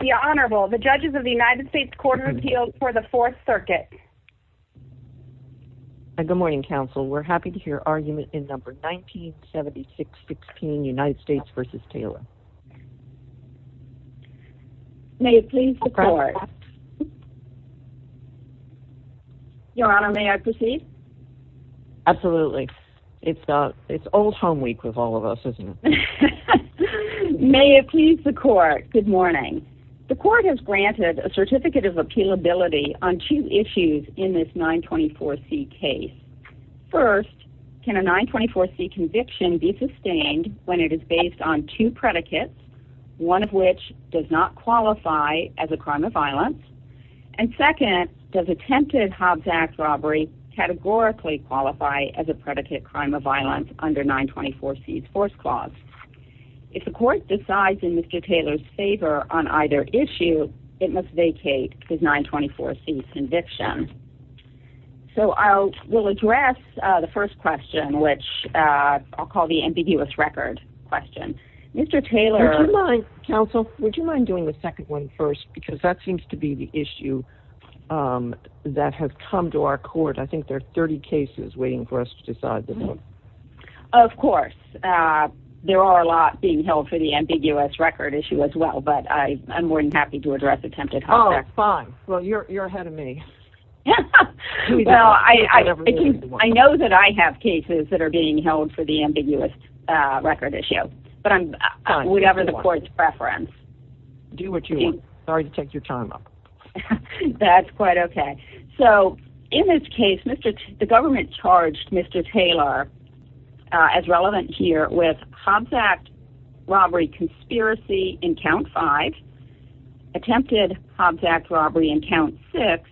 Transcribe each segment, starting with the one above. The Honorable, the judges of the United States Court of Appeals for the 4th Circuit Good morning counsel, we're happy to hear argument in number 1976-16, United States v. Taylor May it please the court Your Honor, may I proceed? Absolutely. It's old home week with all of us, isn't it? May it please the court, good morning. The court has granted a certificate of appealability on two issues in this 924C case. First, can a 924C conviction be sustained when it is based on two predicates, one of which does not qualify as a crime of violence and second, does attempted Hobbs Act robbery categorically qualify as a predicate crime of violence under 924C's 4th Clause? If the court decides in Mr. Taylor's favor on either issue, it must vacate his 924C conviction. So I will address the first question, which I'll call the ambiguous record question. Counsel, would you mind doing the second one first, because that seems to be the issue that has come to our court. I think there are 30 cases waiting for us to decide this one. Of course. There are a lot being held for the ambiguous record issue as well, but I'm more than happy to address attempted Hobbs Act. Oh, fine. Well, you're ahead of me. Well, I know that I have cases that are being held for the ambiguous record issue, but whatever the court's preference. Do what you want. Sorry to take your time. That's quite okay. So in this case, the government charged Mr. Taylor, as relevant here, with Hobbs Act robbery conspiracy in Count 5, attempted Hobbs Act robbery in Count 6,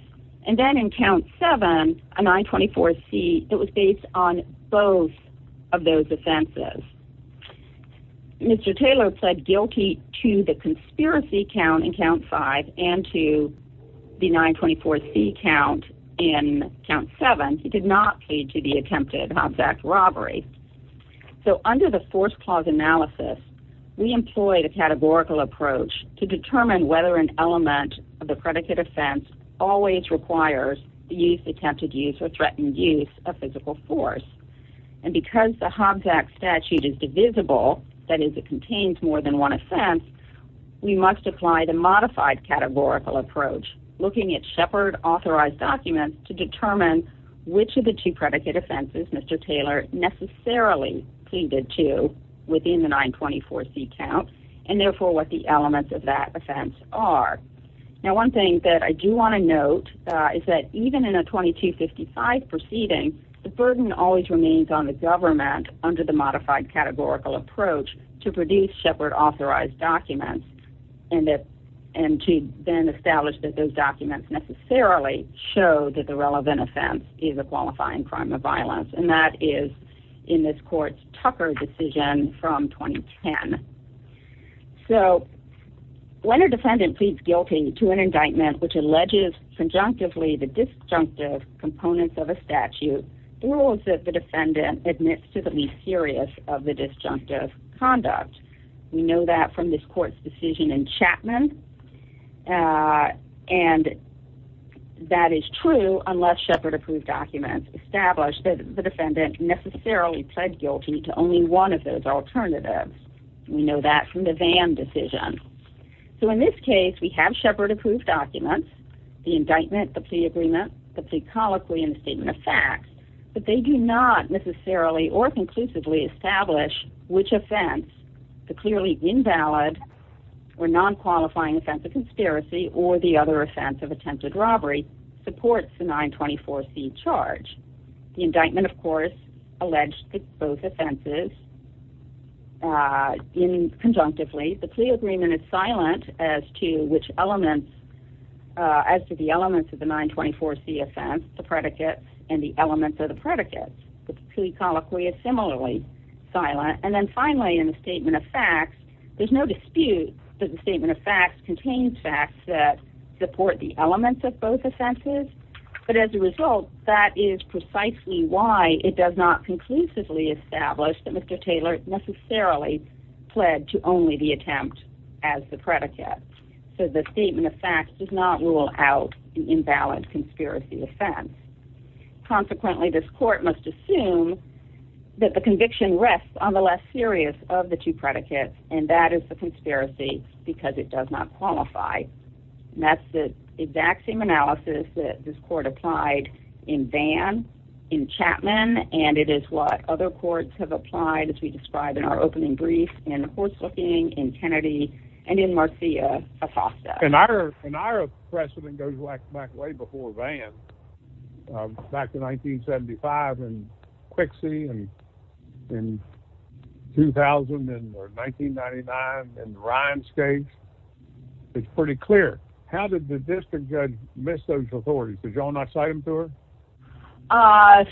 and then in Count 7, a 924C that was based on both of those offenses. Mr. Taylor pled guilty to the conspiracy count in Count 5 and to the 924C count in Count 7. He did not plead to the attempted Hobbs Act robbery. So under the force clause analysis, we employed a categorical approach to determine whether an element of the predicate offense always requires the use, attempted use, or threatened use of physical force. And because the Hobbs Act statute is divisible, that is, it contains more than one offense, we must apply the modified categorical approach, looking at Shepard-authorized documents, to determine which of the two predicate offenses Mr. Taylor necessarily pleaded to within the 924C count and therefore what the elements of that offense are. Now one thing that I do want to note is that even in a 2255 proceeding, the burden always remains on the government under the modified categorical approach to produce Shepard-authorized documents and to then establish that those documents necessarily show that the relevant offense is a qualifying crime of violence. And that is in this court's Tucker decision from 2010. So when a defendant pleads guilty to an indictment which alleges conjunctively the disjunctive components of a statute, the rule is that the defendant admits to being serious of the disjunctive conduct. We know that from this court's decision in Chapman, and that is true unless Shepard-approved documents establish that the defendant necessarily pled guilty to only one of those alternatives. We know that from the Vann decision. So in this case, we have Shepard-approved documents, the indictment, the plea agreement, the plea colloquy, and the statement of facts, but they do not necessarily or conclusively establish which offense, the clearly invalid or non-qualifying offense of conspiracy or the other offense of attempted robbery, supports the 924C charge. The indictment, of course, alleged both offenses conjunctively. The plea agreement is silent as to which elements, as to the elements of the 924C offense, the predicate, and the elements of the predicate. The plea colloquy is similarly silent. And then finally, in the statement of facts, there's no dispute that the statement of facts contains facts that support the elements of both offenses. But as a result, that is precisely why it does not conclusively establish that Mr. Taylor necessarily pled to only the attempt as the predicate. So the statement of facts does not rule out an invalid conspiracy offense. Consequently, this court must assume that the conviction rests on the less serious of the two predicates, and that is the conspiracy because it does not qualify. And that's the exact same analysis that this court applied in Vann, in Chapman, and it is what other courts have applied, as we described in our opening brief, in Horsthoeking, in Kennedy, and in Marcia Acosta. And our precedent goes back way before Vann, back to 1975, and Quixie, and 2000, and 1999, and Ryan Scage. It's pretty clear. How did the district judge miss those authorities? Did y'all not cite them to her?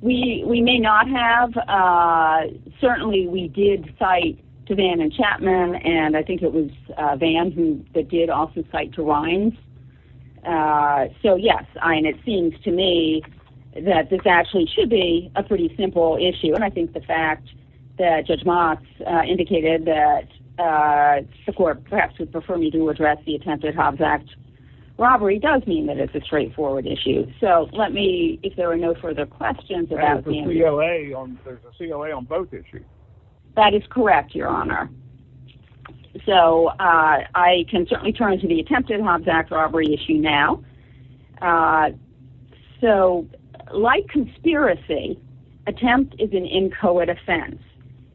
We may not have. Certainly, we did cite to Vann and Chapman, and I think it was Vann that did also cite to Rhines. So, yes, and it seems to me that this actually should be a pretty simple issue. And I think the fact that Judge Mox indicated that the court perhaps would prefer me to address the attempted Hobbs Act robbery does mean that it's a straightforward issue. So, let me, if there are no further questions about Vann. There's a COA on both issues. That is correct, Your Honor. So, I can certainly turn to the attempted Hobbs Act robbery issue now. So, like conspiracy, attempt is an inchoate offense.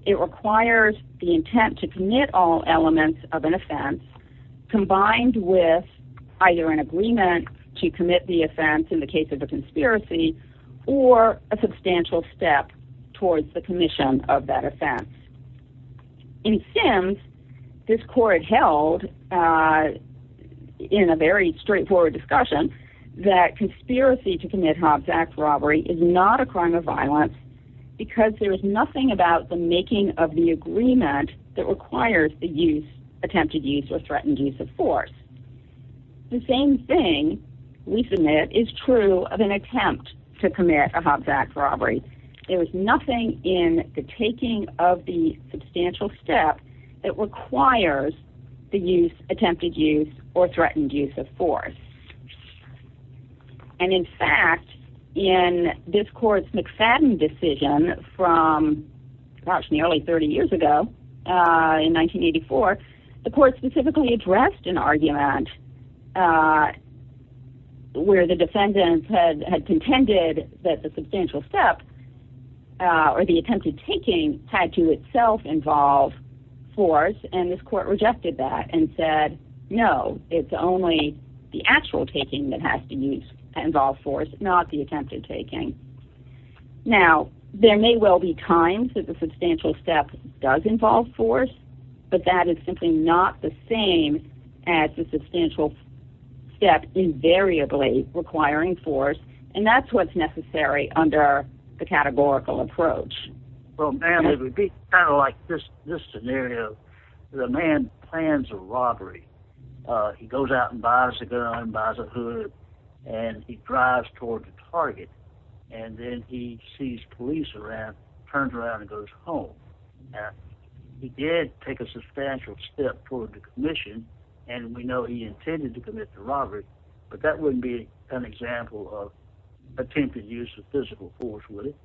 It requires the intent to commit all elements of an offense combined with either an agreement to commit the offense in the case of a conspiracy or a substantial step towards the commission of that offense. In Sims, this court held in a very straightforward discussion that conspiracy to commit Hobbs Act robbery is not a crime of violence because there is nothing about the making of the agreement that requires the attempted use or threatened use of force. The same thing, we submit, is true of an attempt to commit a Hobbs Act robbery. There is nothing in the taking of the substantial step that requires the use, attempted use, or threatened use of force. And, in fact, in this court's McFadden decision from, gosh, nearly 30 years ago, in 1984, the court specifically addressed an argument where the defendants had contended that the substantial step or the attempted taking had to itself involve force. And this court rejected that and said, no, it's only the actual taking that has to involve force, not the attempted taking. Now, there may well be times that the substantial step does involve force, but that is simply not the same as the substantial step invariably requiring force. And that's what's necessary under the categorical approach. Well, ma'am, it would be kind of like this scenario. The man plans a robbery. He goes out and buys a gun, buys a hood, and he drives toward the target. And then he sees police around, turns around, and goes home. Now, he did take a substantial step toward the commission, and we know he intended to commit the robbery, but that wouldn't be an example of attempted use of physical force, would it?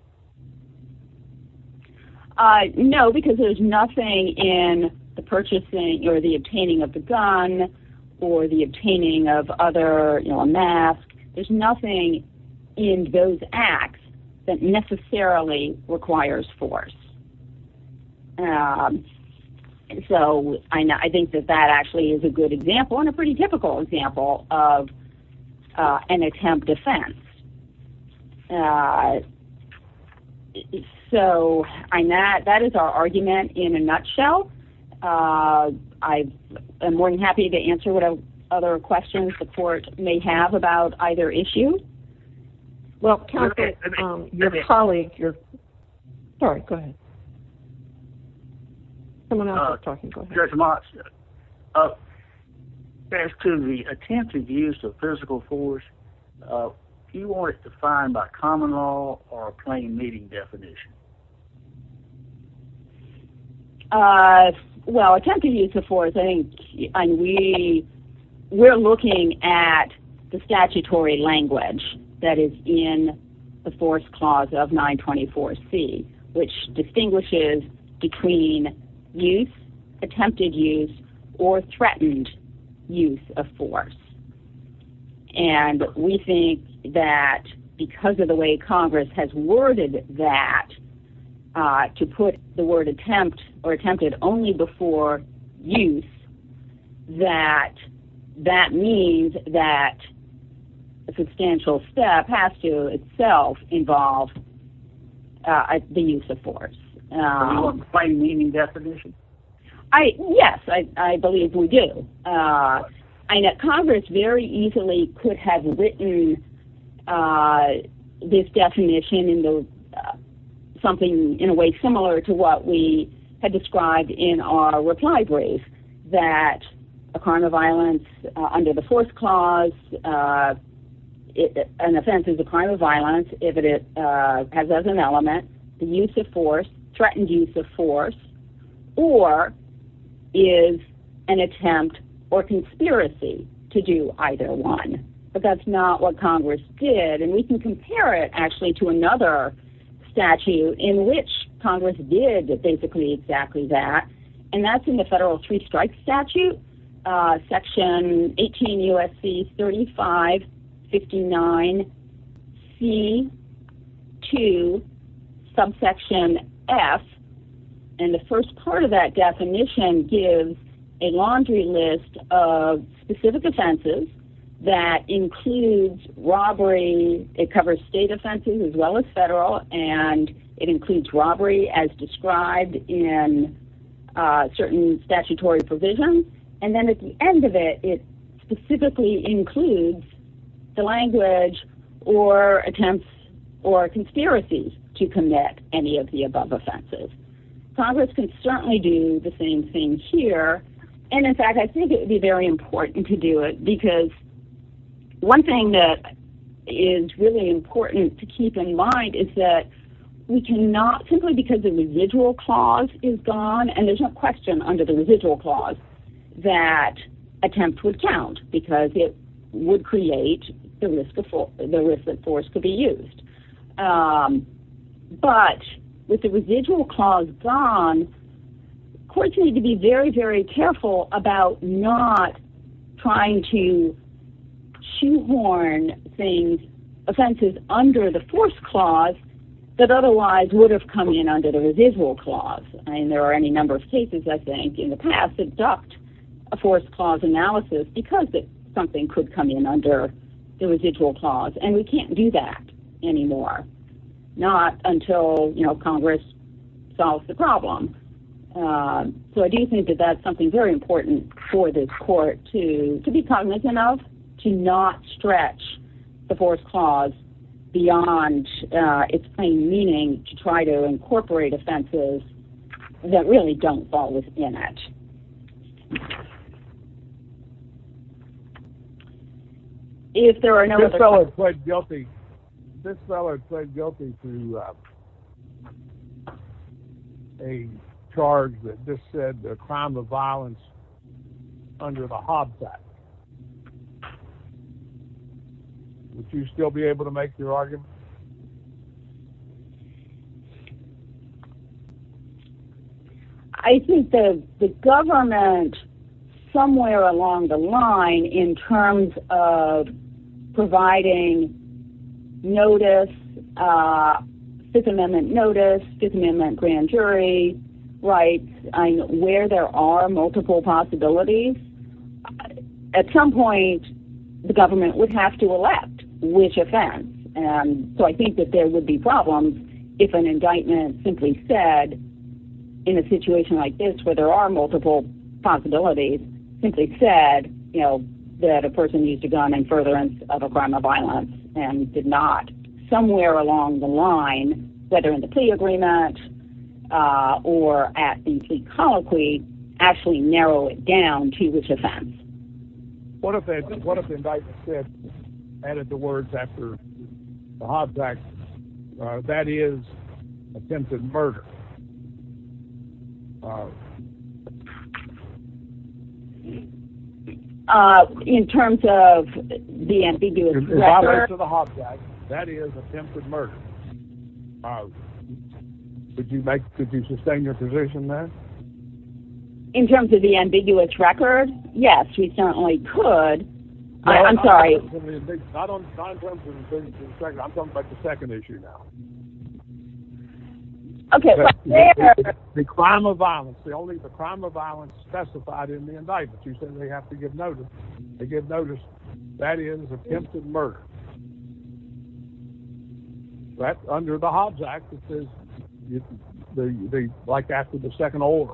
No, because there's nothing in the purchasing or the obtaining of the gun or the obtaining of other, you know, a mask. There's nothing in those acts that necessarily requires force. So I think that that actually is a good example and a pretty typical example of an attempt defense. So that is our argument in a nutshell. I am more than happy to answer what other questions the court may have about either issue. Well, counsel, your colleague, your ‑‑ sorry, go ahead. Go ahead. Judge Motz, as to the attempted use of physical force, do you want it defined by common law or a plain meeting definition? Well, attempted use of force, I think, and we're looking at the statutory language that is in the force clause of 924C, which distinguishes between use, attempted use, or threatened use of force. And we think that because of the way Congress has worded that, to put the word attempt or attempted only before use, that that means that a substantial step has to itself involve the use of force. Do you want a plain meeting definition? Yes, I believe we do. Congress very easily could have written this definition in something in a way similar to what we had described in our reply brief, that a crime of violence under the force clause, an offense is a crime of violence if it has as an element the use of force, threatened use of force, or is an attempt or conspiracy to do either one. But that's not what Congress did. And we can compare it, actually, to another statute in which Congress did basically exactly that. And that's in the Federal Three Strikes Statute, Section 18 U.S.C. 3559C2, subsection F. And the first part of that definition gives a laundry list of specific offenses that includes robbery, it covers state offenses as well as federal, and it includes robbery as described in certain statutory provisions. And then at the end of it, it specifically includes the language or attempts or conspiracies to commit any of the above offenses. Congress can certainly do the same thing here. And in fact, I think it would be very important to do it, because one thing that is really important to keep in mind is that we cannot, simply because the residual clause is gone, and there's no question under the residual clause that attempts would count, because it would create the risk that force could be used. But with the residual clause gone, courts need to be very, very careful about not trying to shoehorn things, offenses under the force clause that otherwise would have come in under the residual clause. And there are any number of cases, I think, in the past that ducked a force clause analysis because something could come in under the residual clause. And we can't do that anymore, not until Congress solves the problem. So I do think that that's something very important for this court to be cognizant of, to not stretch the force clause beyond its plain meaning to try to incorporate offenses that really don't fall within it. If there are no other questions... This fellow pled guilty to a charge that just said a crime of violence under the Hobbs Act. Would you still be able to make your argument? I think that the government, somewhere along the line, in terms of providing notice, Fifth Amendment notice, Fifth Amendment grand jury rights, where there are multiple possibilities, at some point, the government would have to elect which offense. So I think that there would be problems if an indictment simply said, in a situation like this where there are multiple possibilities, simply said that a person used a gun in furtherance of a crime of violence and did not, somewhere along the line, whether in the plea agreement or at the plea colloquy, actually narrow it down to which offense. What if indictment 6 added the words after the Hobbs Act, that is, attempted murder? In terms of the ambiguous record? In the Hobbs Act, that is, attempted murder. Could you sustain your position there? In terms of the ambiguous record? Yes, we certainly could. I'm sorry. Not in terms of the ambiguous record, I'm talking about the second issue now. The crime of violence, the crime of violence specified in the indictment. You said they have to give notice. They give notice, that is, attempted murder. That's under the Hobbs Act, like after the second order.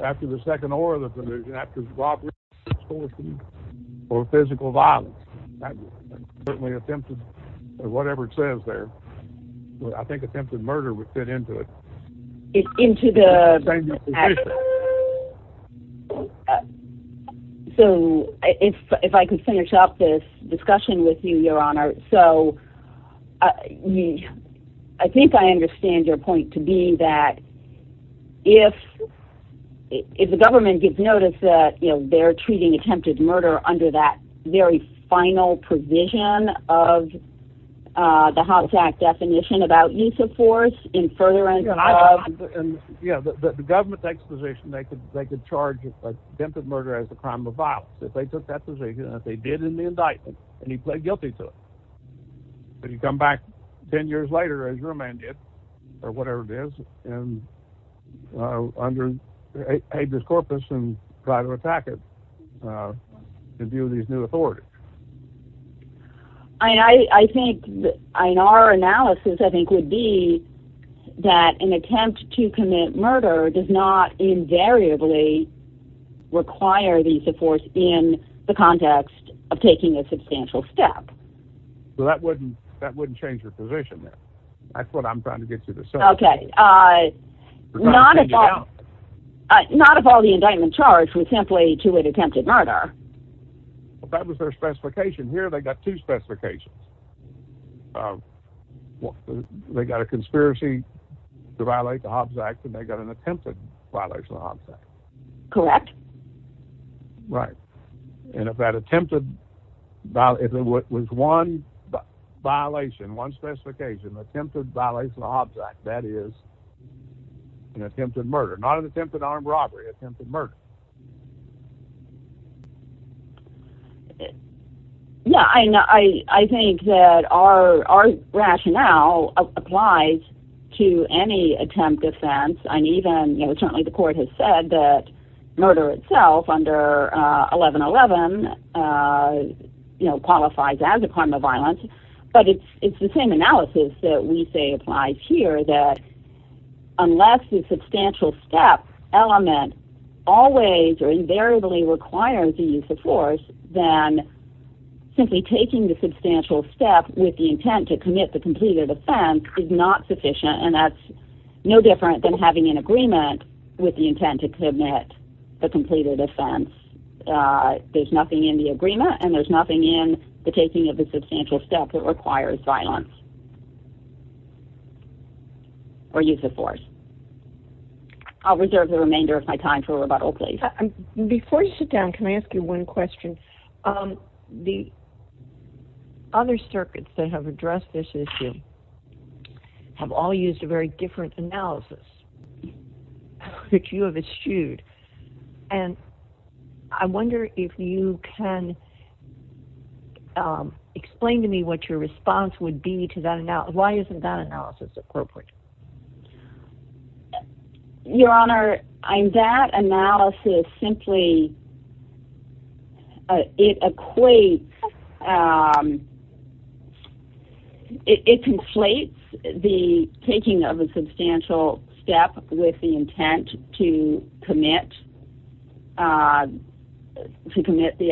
After the second order, after robbery, extortion, or physical violence. That's certainly attempted, or whatever it says there. I think attempted murder would fit into it. So, if I can finish up this discussion with you, Your Honor. So, I think I understand your point to be that if the government gives notice that they're treating attempted murder under that very final provision of the Hobbs Act definition about use of force in furtherance of... Yeah, the government takes the position they could charge attempted murder as a crime of violence. If they took that position, and they did in the indictment, and he pled guilty to it. Then you come back ten years later, as your man did, or whatever it is, and under habeas corpus and try to attack it in view of these new authorities. I think, in our analysis, I think would be that an attempt to commit murder does not invariably require the use of force in the context of taking a substantial step. Well, that wouldn't change your position there. That's what I'm trying to get you to say. Okay. Not if all the indictment charged was simply to an attempted murder. That was their specification. Here, they got two specifications. They got a conspiracy to violate the Hobbs Act, and they got an attempted violation of the Hobbs Act. Correct. Right. And if that attempted, if it was one violation, one specification, attempted violation of the Hobbs Act, that is an attempted murder. Not an attempted armed robbery, attempted murder. Yeah. I think that our rationale applies to any attempt defense, and even, you know, certainly the court has said that murder itself under 1111, you know, qualifies as a crime of violence. But it's the same analysis that we say applies here, that unless the substantial step element always or invariably requires the use of force, then simply taking the substantial step with the intent to commit the completed offense is not sufficient, and that's no different than having an agreement with the intent to commit the completed offense. There's nothing in the agreement, and there's nothing in the taking of the substantial step that requires violence or use of force. I'll reserve the remainder of my time for rebuttal, please. Before you sit down, can I ask you one question? The other circuits that have addressed this issue have all used a very different analysis that you have eschewed, and I wonder if you can explain to me what your response would be to that analysis. Why isn't that analysis appropriate? Your Honor, that analysis simply, it equates, it conflates the taking of a substantial step with the intent to commit the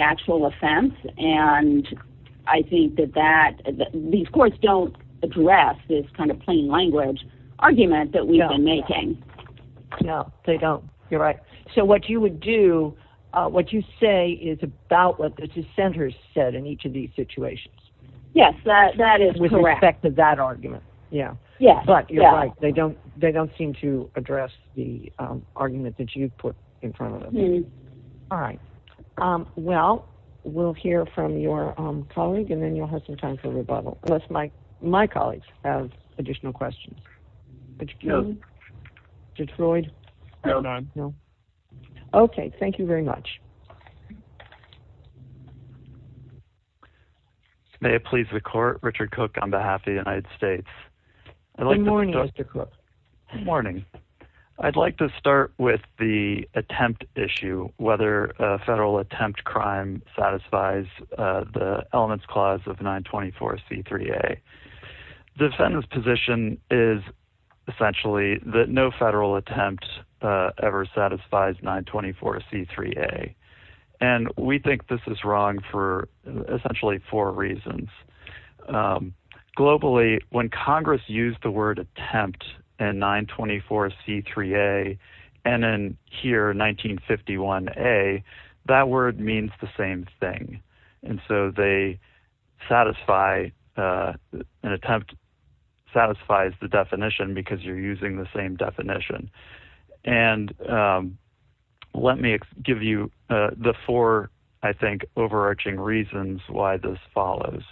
actual offense, and I think that these courts don't address this kind of plain language. No. No, they don't. You're right. So what you would do, what you say is about what the dissenters said in each of these situations. Yes, that is correct. With respect to that argument. Yeah. Yeah. But you're right. They don't seem to address the argument that you put in front of them. All right. Well, we'll hear from your colleague, and then you'll have some time for rebuttal. Unless my colleagues have additional questions. No. Detroit? No, none. No. Okay. Thank you very much. May it please the court. Richard Cook on behalf of the United States. Good morning, Mr. Cook. Good morning. I'd like to start with the attempt issue, whether a federal attempt crime satisfies the elements clause of 924 C3 a defendant's position is essentially that no federal attempt ever satisfies 924 C3 a. And we think this is wrong for essentially four reasons. Globally, when Congress used the word attempt and 924 C3 a. And then here, 1951 a. That word means the same thing. And so they satisfy an attempt. Satisfies the definition because you're using the same definition. And let me give you the four, I think, overarching reasons why this follows.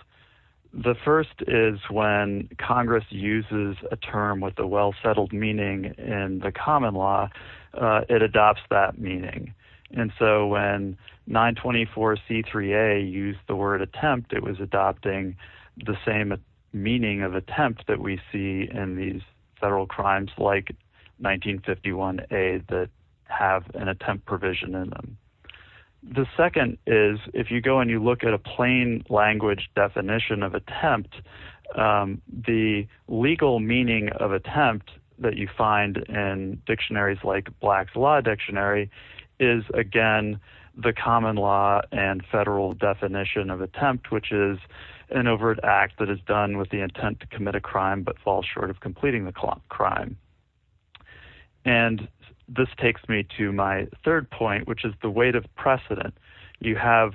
The first is when Congress uses a term with a well settled meaning in the common law. It adopts that meaning. And so when 924 C3 a used the word attempt, it was adopting the same meaning of attempt that we see in these federal crimes like 1951 a that have an attempt provision in them. The second is if you go and you look at a plain language definition of attempt, the legal meaning of attempt that you find in dictionaries like black law dictionary is again the common law and federal definition of attempt, which is an overt act that is done with the intent to commit a crime but fall short of completing the crime. And this takes me to my third point, which is the weight of precedent you have.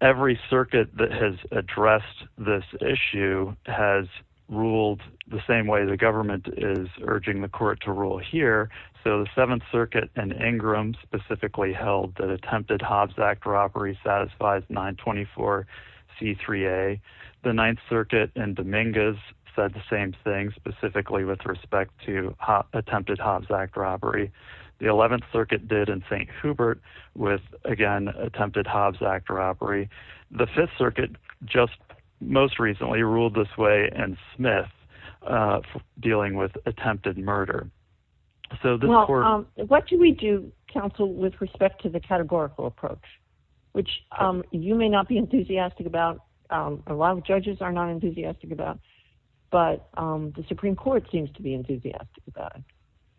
Every circuit that has addressed this issue has ruled the same way the government is urging the court to rule here. So the seventh circuit and Ingram specifically held that attempted Hobbs Act robbery satisfies 924 C3 a the ninth circuit and Dominguez said the same thing specifically with respect to attempted Hobbs Act robbery. The 11th circuit did in St. Hubert with again attempted Hobbs Act robbery. The fifth circuit just most recently ruled this way and Smith dealing with attempted murder. So what do we do, counsel, with respect to the categorical approach, which you may not be enthusiastic about? A lot of judges are not enthusiastic about, but the Supreme Court seems to be enthusiastic.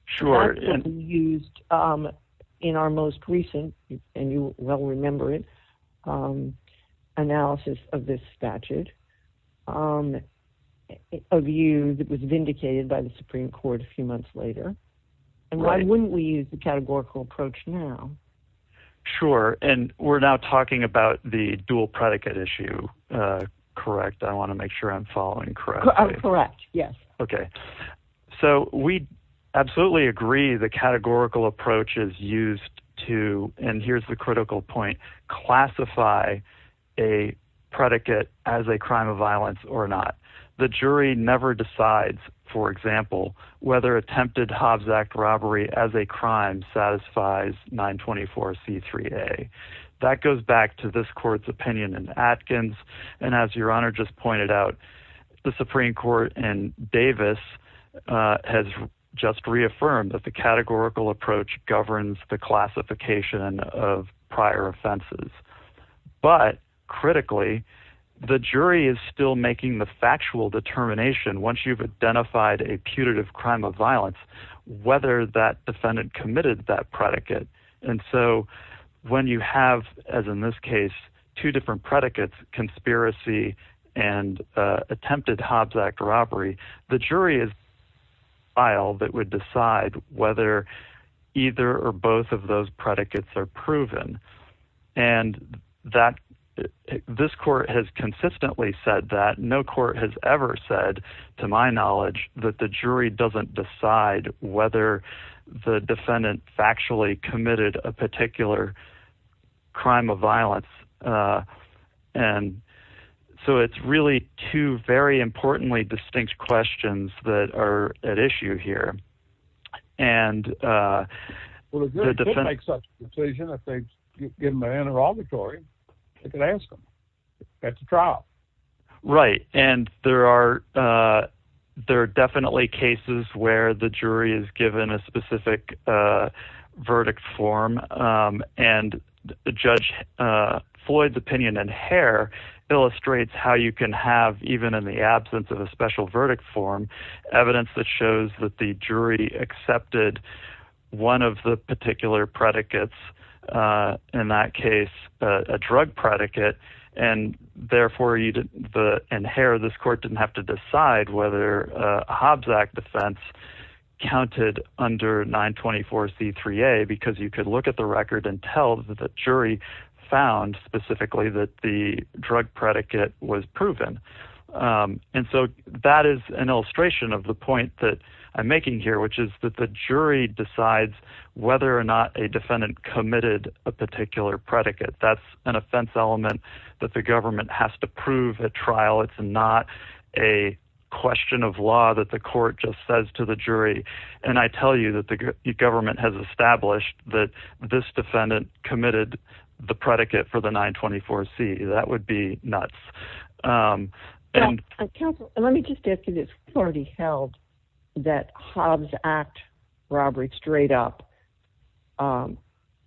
Sure. Used in our most recent and you will remember it. Analysis of this statute of you that was vindicated by the Supreme Court a few months later. And why wouldn't we use the categorical approach now? Sure. And we're now talking about the dual predicate issue. Correct. I want to make sure I'm following. Correct. Correct. Yes. Okay. So we absolutely agree. The categorical approach is used to. And here's the critical point. Classify a predicate as a crime of violence or not. The jury never decides, for example, whether attempted Hobbs Act robbery as a crime satisfies 924 C3 a that goes back to this court's opinion and Atkins. And as your honor just pointed out, the Supreme Court and Davis has just reaffirmed that the categorical approach governs the classification of prior offenses. But critically, the jury is still making the factual determination. Once you've identified a putative crime of violence, whether that defendant committed that predicate. And so when you have, as in this case, two different predicates, conspiracy and attempted Hobbs Act robbery, the jury is file that would decide whether either or both of those predicates are proven. And that this court has consistently said that no court has ever said, to my knowledge, that the jury doesn't decide whether the defendant factually committed a particular crime of violence. And so it's really two very importantly distinct questions that are at issue here. And, uh, well, if you're going to make such a decision, if they give him an interrogatory, they could ask him at the trial. Right. And there are, uh, there are definitely cases where the jury is given a specific, uh, verdict form. Um, and the judge, uh, Floyd's opinion and hair illustrates how you can have, even in the absence of a special verdict form evidence that shows that the jury accepted one of the particular predicates, uh, in that case, uh, a drug predicate. Um, and so that is an illustration of the point that I'm making here, which is that the jury decides whether or not a defendant committed a particular predicate. That's an offense element that the government has to prove at trial. It's not a question of law that the court just says to the jury. And I tell you that the government has established that this defendant committed the predicate for the nine 24 C that would be nuts. Um, and let me just ask you this already held that Hobbs act robbery straight up, um,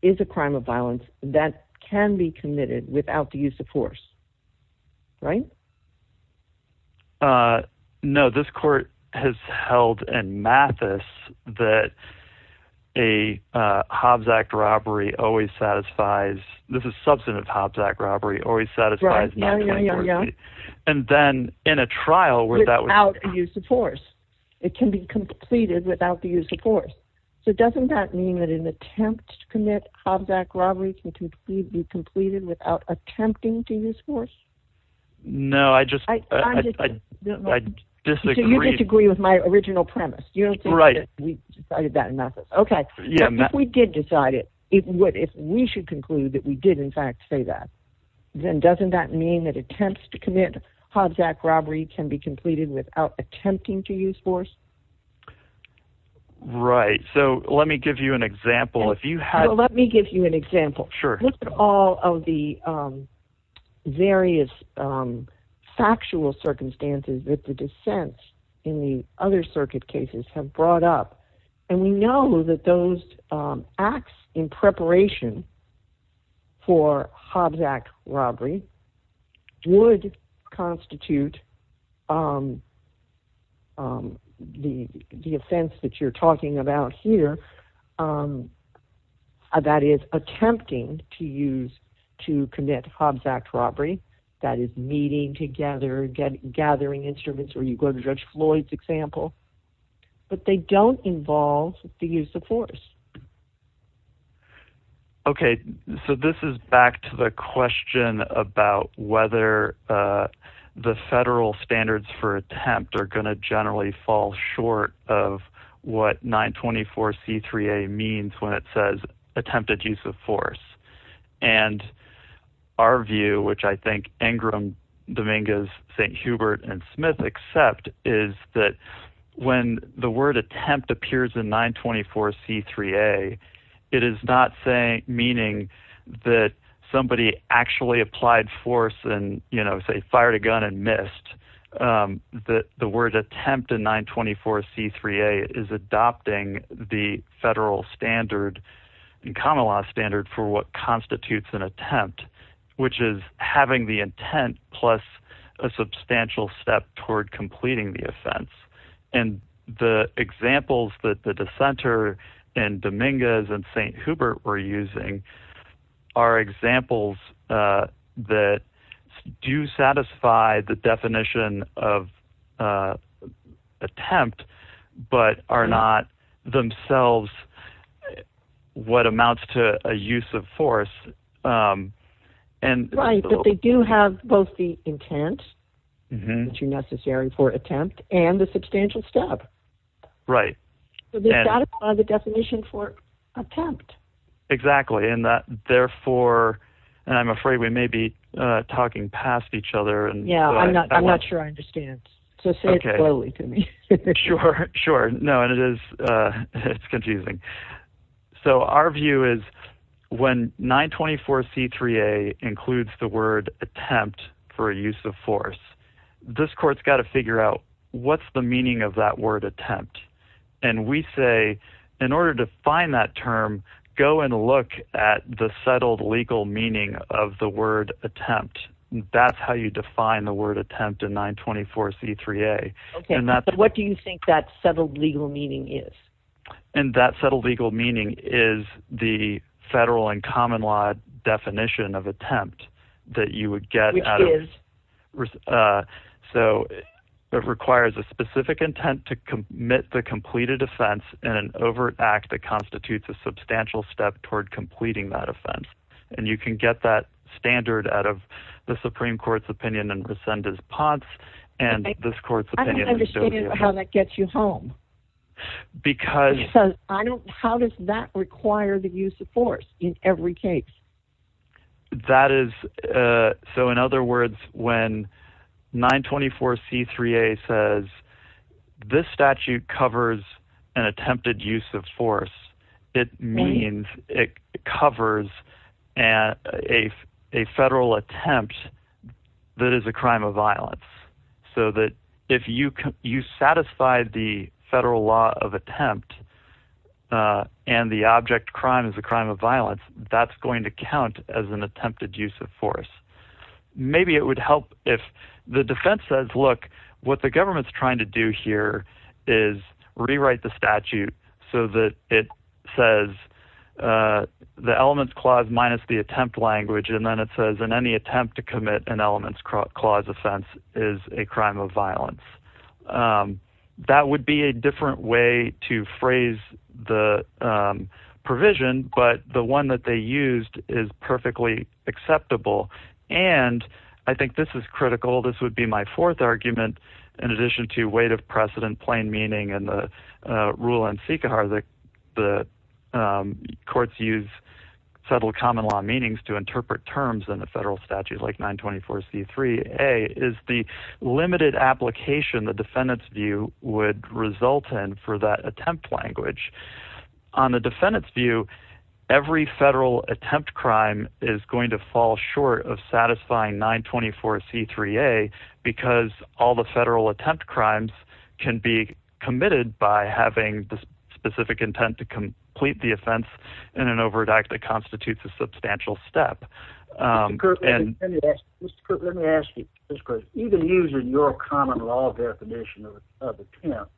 is a crime of violence that can be committed without the use of force. Right. Uh, no, this court has held and Mathis that a, uh, Hobbs act robbery always satisfies. This is substantive Hobbs act robbery always satisfies. And then in a trial without use of force, it can be completed without the use of force. So doesn't that mean that an attempt to commit Hobbs act robbery can be completed without attempting to use force? No, I just, I disagree with my original premise. We decided that in Mathis. Okay. If we did decide it, it would, if we should conclude that we did in fact say that, then doesn't that mean that attempts to commit Hobbs act robbery can be completed without attempting to use force? Right. So let me give you an example. Let me give you an example. Sure. All of the, um, various, um, factual circumstances that the defense in the other circuit cases have brought up. And we know that those, um, acts in preparation for Hobbs act robbery would constitute, um, um, the, the offense that you're talking about here. Um, uh, that is attempting to use, to commit Hobbs act robbery that is meeting together, get gathering instruments, or you go to judge Floyd's example. But they don't involve the use of force. Okay. So this is back to the question about whether, uh, the federal standards for attempt are going to generally fall short of what nine 24 C three a means when it says attempted use of force. And our view, which I think Ingram Dominguez St. Hubert and Smith accept is that when the word attempt appears in nine 24 C three a, it is not saying, meaning that somebody actually applied force and, you know, say fired a gun and missed, um, that the word attempt in nine 24 C three a is adopting the federal standard. And common law standard for what constitutes an attempt, which is having the intent plus a substantial step toward completing the offense. And the examples that the, the center and Dominguez and St. Hubert were using are examples, uh, that do satisfy the definition of, uh, attempt, but are not themselves. What amounts to a use of force? Right. But they do have both the intent necessary for attempt and the substantial step. Right. The definition for attempt. Exactly. And that therefore, and I'm afraid we may be talking past each other and I'm not sure I understand. So say it slowly to me. Sure. Sure. No, it is. It's confusing. So our view is when nine 24 C three a includes the word attempt for a use of force, this court's got to figure out what's the meaning of that word attempt. And we say, in order to find that term, go and look at the settled legal meaning of the word attempt. That's how you define the word attempt in nine 24 C three a. Okay. What do you think that settled legal meaning is? And that settled legal meaning is the federal and common law definition of attempt that you would get. Uh, so it requires a specific intent to commit the completed offense and an overt act that constitutes a substantial step toward completing that offense. And you can get that standard out of the Supreme court's opinion and rescind his pots and this court's opinion. I don't understand how that gets you home. Because I don't, how does that require the use of force in every case? That is. Uh, so in other words, when nine 24 C three a says this statute covers an attempted use of force, it means it covers a, a, a federal attempt that is a crime of violence. So that if you can, you satisfy the federal law of attempt, uh, and the object crime is a crime of violence. That's going to count as an attempted use of force. Maybe it would help if the defense says, look what the government's trying to do here is rewrite the statute so that it says, uh, the elements clause minus the attempt language. And then it says in any attempt to commit an elements clause offense is a crime of violence. Um, that would be a different way to phrase the, um, provision, but the one that they used is perfectly acceptable. And I think this is critical. This would be my fourth argument. In addition to weight of precedent, plain meaning, and the, uh, rule in Sikar, the, the, um, courts use federal common law meanings to interpret terms in the federal statute, like nine 24 C three a is the limited application. The defendant's view would result in for that attempt language on the defendant's view. Every federal attempt crime is going to fall short of satisfying nine 24 C three a because all the federal attempt crimes can be committed by having the specific intent to complete the offense in an overactive constitutes a substantial step. Um, and let me ask you this question, even using your common law definition of attempt,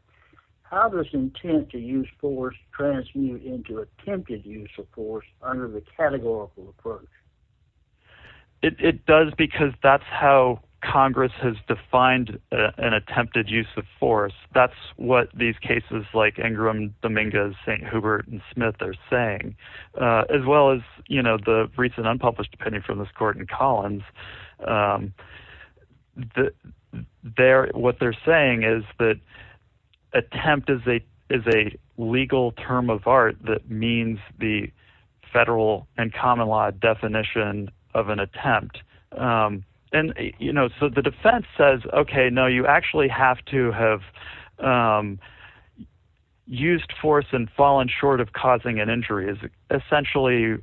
how does intent to use force transmute into attempted use of force under the categorical approach? It does, because that's how Congress has defined an attempted use of force. That's what these cases like Ingram Dominguez, St. Hubert and Smith are saying, uh, as well as, you know, the recent unpublished opinion from this court in Collins. Um, the there, what they're saying is that attempt is a, is a legal term of art that means the federal and common law definition of an attempt. Um, and you know, so the defense says, okay, no, you actually have to have, um, used force and fallen short of causing an injury is essentially,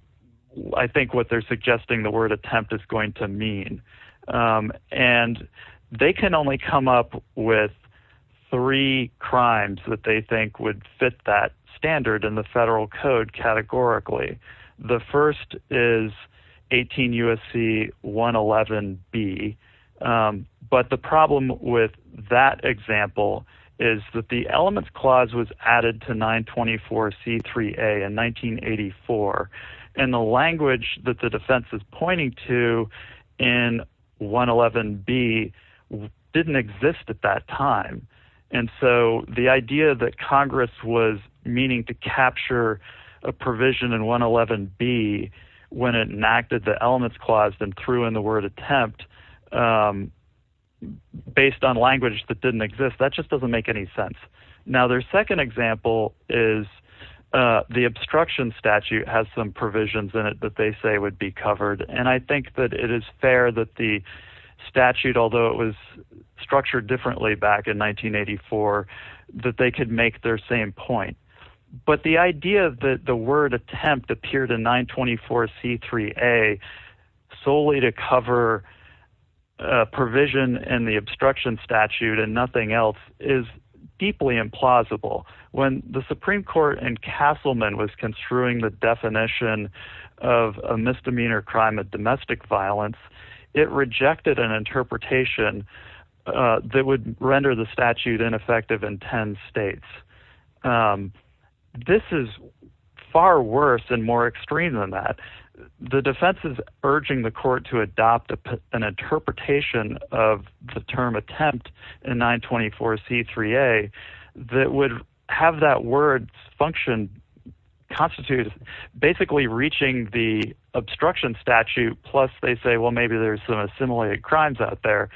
I think what they're suggesting the word attempt is going to mean. Um, and they can only come up with three crimes that they think would fit that standard in the federal code categorically. The first is 18 USC one 11 B. Um, but the problem with that example is that the elements clause was added to nine 24 C three a and 1984 and the language that the defense is pointing to in one 11 B didn't exist at that time. And so the idea that Congress was meaning to capture a provision in one 11 B when it enacted the elements clause and threw in the word attempt, um, based on language that didn't exist, that just doesn't make any sense. Now, their second example is, uh, the obstruction statute has some provisions in it, but they say would be covered. And I think that it is fair that the statute, although it was structured differently back in 1984, that they could make their same point. But the idea that the word attempt appeared in nine 24 C three a solely to cover a provision and the obstruction statute and nothing else is deeply implausible. When the Supreme court and Castleman was construing the definition of a misdemeanor crime, a domestic violence, it rejected an interpretation, uh, that would render the statute ineffective in 10 states. Um, this is far worse and more extreme than that. The defense is urging the court to adopt an interpretation of the term attempt in nine 24 C three a that would have that word function constitutes basically reaching the obstruction statute. Plus they say, well, maybe there's some assimilated crimes out there.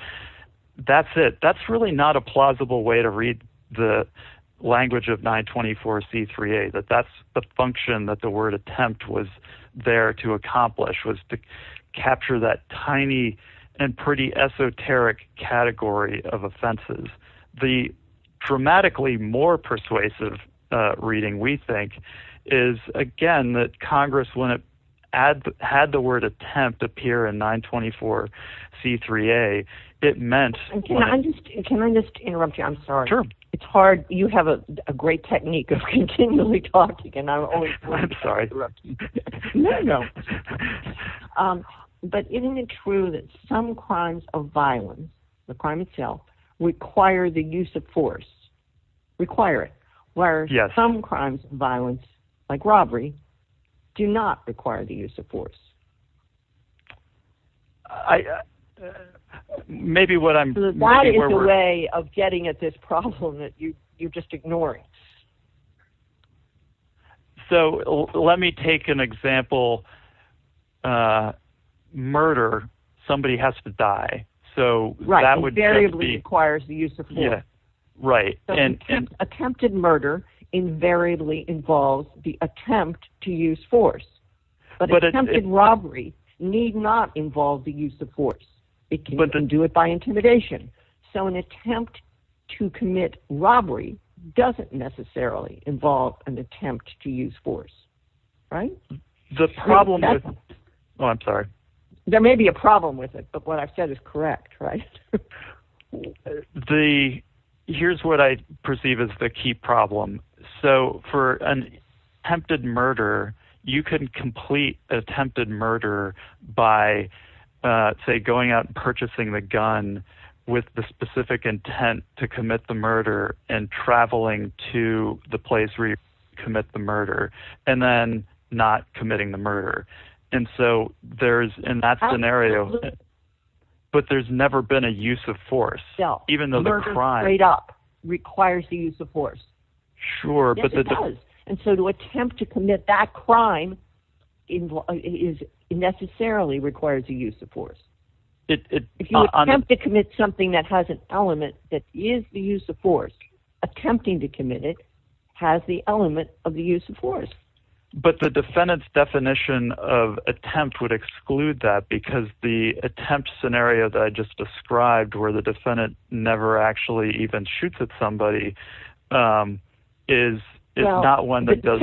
That's it. That's really not a plausible way to read the language of nine 24 C three a that that's the function that the word attempt was there to accomplish was to capture that tiny and pretty esoteric category of offenses. The dramatically more persuasive, uh, reading we think is again, that Congress wouldn't add, had the word attempt appear in nine 24 C three a it meant. Can I just interrupt you? I'm sorry. It's hard. You have a great technique of continually talking and I'm sorry. Um, but isn't it true that some crimes of violence, the crime itself require the use of force require it where some crimes violence like robbery do not require the use of force. I, uh, maybe what I'm getting at this problem that you, you're just ignoring. So let me take an example. Uh, murder. Somebody has to die. So that would be requires the use of force. Right. And attempted murder invariably involves the attempt to use force, but attempted robbery need not involve the use of force. It can do it by intimidation. So an attempt to commit robbery doesn't necessarily involve an attempt to use force. Right. The problem. Oh, I'm sorry. There may be a problem with it, but what I've said is correct. Right. The here's what I perceive as the key problem. So for an attempted murder, you couldn't complete attempted murder by, uh, say going out and purchasing the gun with the specific intent to commit the murder and traveling to the place where you commit the murder and then not committing the murder. And so there's in that scenario, but there's never been a use of force, even though the crime up requires the use of force. Sure. And so to attempt to commit that crime is necessarily requires the use of force. If you attempt to commit something that has an element that is the use of force, attempting to commit it has the element of the use of force. But the defendant's definition of attempt would exclude that because the attempt scenario that I just described where the defendant never actually even shoots at somebody is not one that does.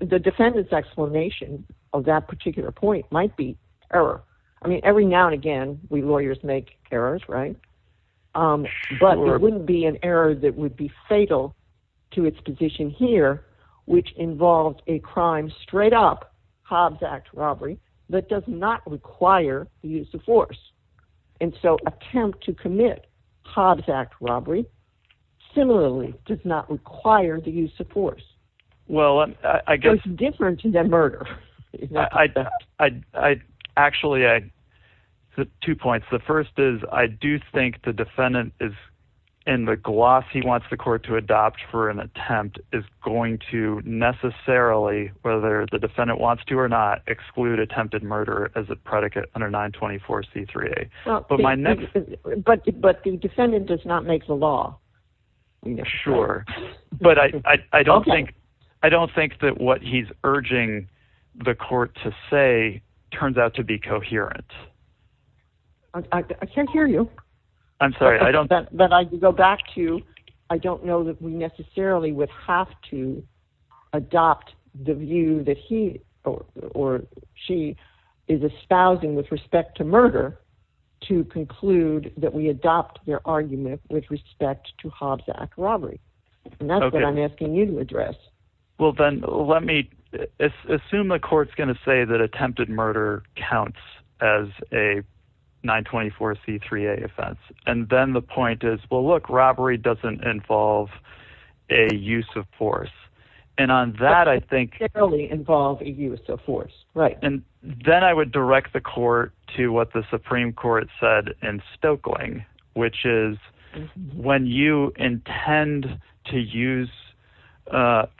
The defendant's explanation of that particular point might be error. I mean, every now and again, we lawyers make errors, right? Um, but it wouldn't be an error that would be fatal to its position here, which involves a crime straight up Hobbs Act robbery that does not require the use of force. And so attempt to commit Hobbs Act robbery similarly does not require the use of force. Well, I guess different than murder. I actually I two points. The first is I do think the defendant is in the gloss. He wants the court to adopt for an attempt is going to necessarily, whether the defendant wants to or not, exclude attempted murder as a predicate under 924 C3. But the defendant does not make the law. Sure. But I don't think I don't think that what he's urging the court to say turns out to be coherent. I can't hear you. I'm sorry. But I go back to I don't know that we necessarily would have to adopt the view that he or she is espousing with respect to murder to conclude that we adopt their argument with respect to Hobbs Act robbery. And that's what I'm asking you to address. Well, then let me assume the court's going to say that attempted murder counts as a 924 C3 offense. And then the point is, well, look, robbery doesn't involve a use of force. And on that, I think generally involve a use of force. Right. And then I would direct the court to what the Supreme Court said in Stokeling, which is when you intend to use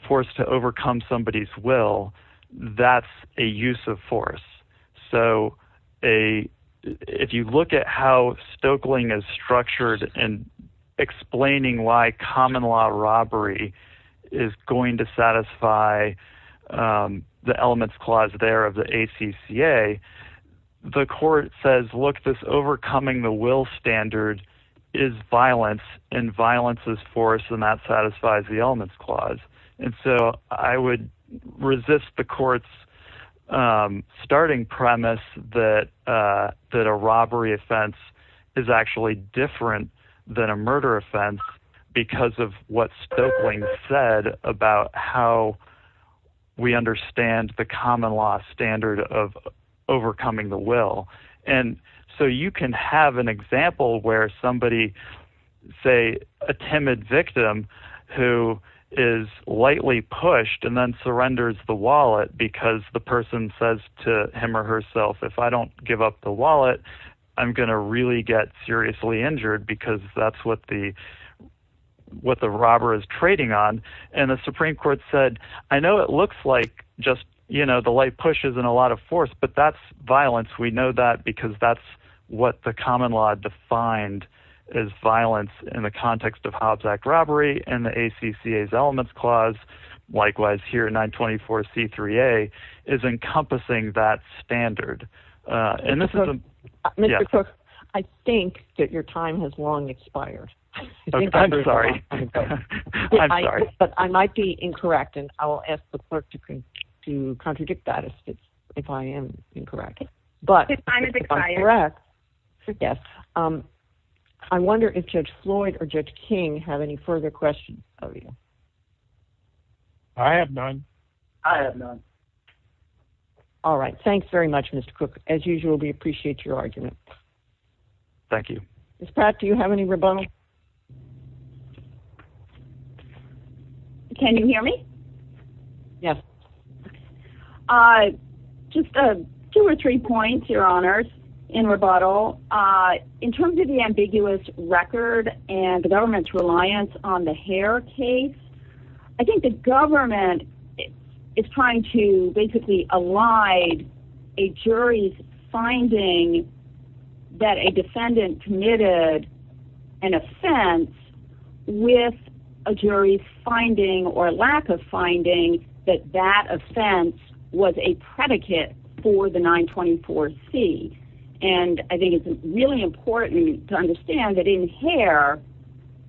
force to overcome somebody's will, that's a use of force. So a if you look at how Stokeling is structured and explaining why common law robbery is going to satisfy the elements clause there of the ACCA, the court says, look, this overcoming the will standard is violence and violence is force. And that satisfies the elements clause. And so I would resist the court's starting premise that that a robbery offense is actually different than a murder offense because of what Stokeling said about how we understand the common law standard of overcoming the will. And so you can have an example where somebody say a timid victim who is lightly pushed and then surrenders the wallet because the person says to him or herself, if I don't give up the wallet, I'm going to really get seriously injured because that's what the what the robber is trading on. And the Supreme Court said, I know it looks like just, you know, the light pushes and a lot of force, but that's violence. We know that because that's what the common law defined as violence in the context of Hobbs Act robbery and the ACCA elements clause. Likewise, here, 924C3A is encompassing that standard. And this is a. Mr. Cook, I think that your time has long expired. I'm sorry. But I might be incorrect. And I'll ask the clerk to to contradict that if I am incorrect. But I guess I wonder if Judge Floyd or Judge King have any further questions of you. I have none. I have none. All right. Thanks very much, Mr. Cook, as usual. We appreciate your argument. Thank you. Pat, do you have any rebuttal? Can you hear me? Yes. Just two or three points, Your Honors, in rebuttal in terms of the ambiguous record and the government's reliance on the hair case. I think the government is trying to basically elide a jury's finding that a defendant committed an offense with a jury's finding or lack of finding that that offense was a predicate for the 924C. And I think it's really important to understand that in hair,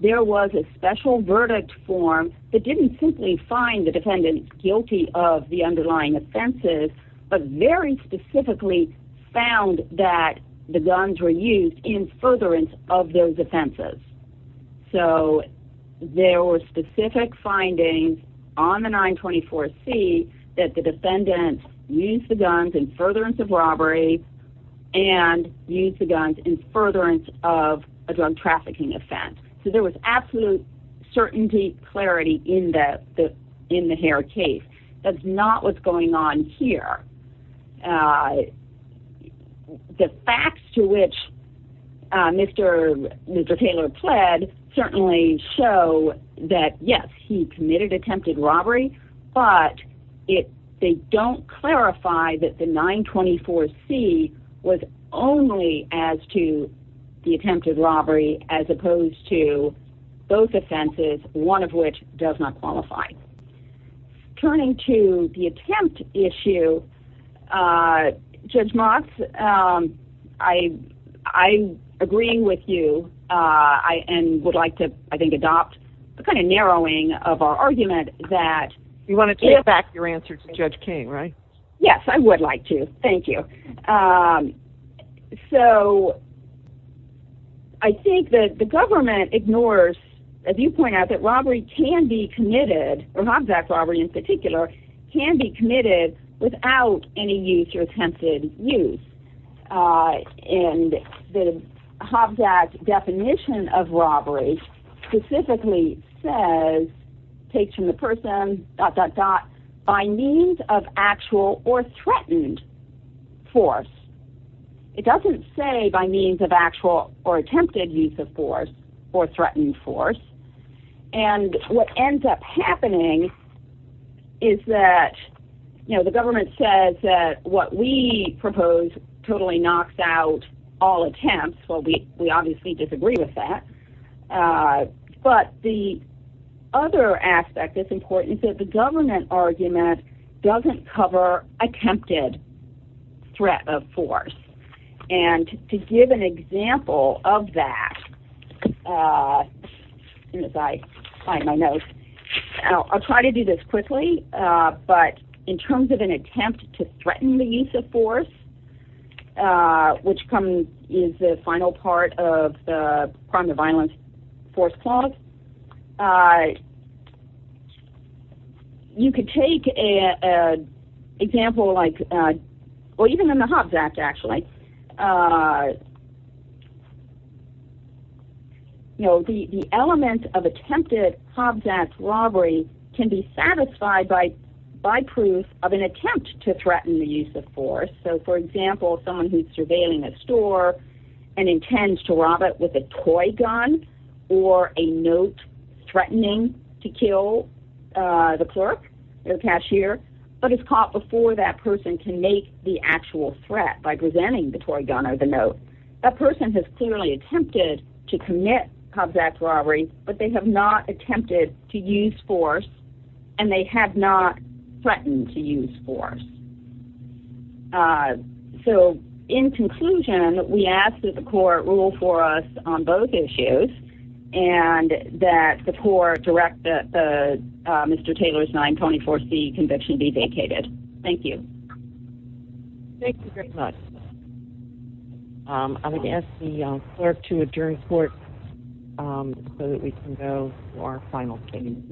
there was a special verdict form that didn't simply find the defendant guilty of the underlying offenses, but very specifically found that the guns were used in furtherance of those offenses. So there were specific findings on the 924C that the defendant used the guns in furtherance of robbery and used the guns in furtherance of a drug trafficking offense. So there was absolute certainty, clarity in the hair case. That's not what's going on here. The facts to which Mr. Taylor pled certainly show that, yes, he committed attempted robbery, but they don't clarify that the 924C was only as to the attempted robbery as opposed to both offenses, one of which does not qualify. Turning to the attempt issue, Judge Motz, I agree with you and would like to, I think, adopt a kind of narrowing of our argument that... You want to take back your answer to Judge King, right? Yes, I would like to. Thank you. So I think that the government ignores, as you point out, that robbery can be committed, or Hobbs Act robbery in particular, can be committed without any use or attempted use. And the Hobbs Act definition of robbery specifically says, takes from the person, dot, dot, dot, by means of actual or threatened force. It doesn't say by means of actual or attempted use of force or threatened force. And what ends up happening is that, you know, the government says that what we propose totally knocks out all attempts. Well, we obviously disagree with that. But the other aspect that's important is that the government argument doesn't cover attempted threat of force. And to give an example of that, I'll try to do this quickly, but in terms of an attempt to threaten the use of force, which is the final part of the crime to violence force clause, you could take an example like, well, even in the Hobbs Act, actually, you know, the element of attempted Hobbs Act robbery can be satisfied by proof of an attempt to threaten the use of force. So, for example, someone who's surveilling a store and intends to rob it with a toy gun or a note threatening to kill the clerk or cashier, but is caught before that person can make the actual threat by presenting the toy gun or the note. That person has clearly attempted to commit Hobbs Act robbery, but they have not attempted to use force, and they have not threatened to use force. So, in conclusion, we ask that the court rule for us on both issues and that the court direct Mr. Taylor's 924C conviction be vacated. Thank you. Thank you very much. I would ask the clerk to adjourn court so that we can go to our final statement.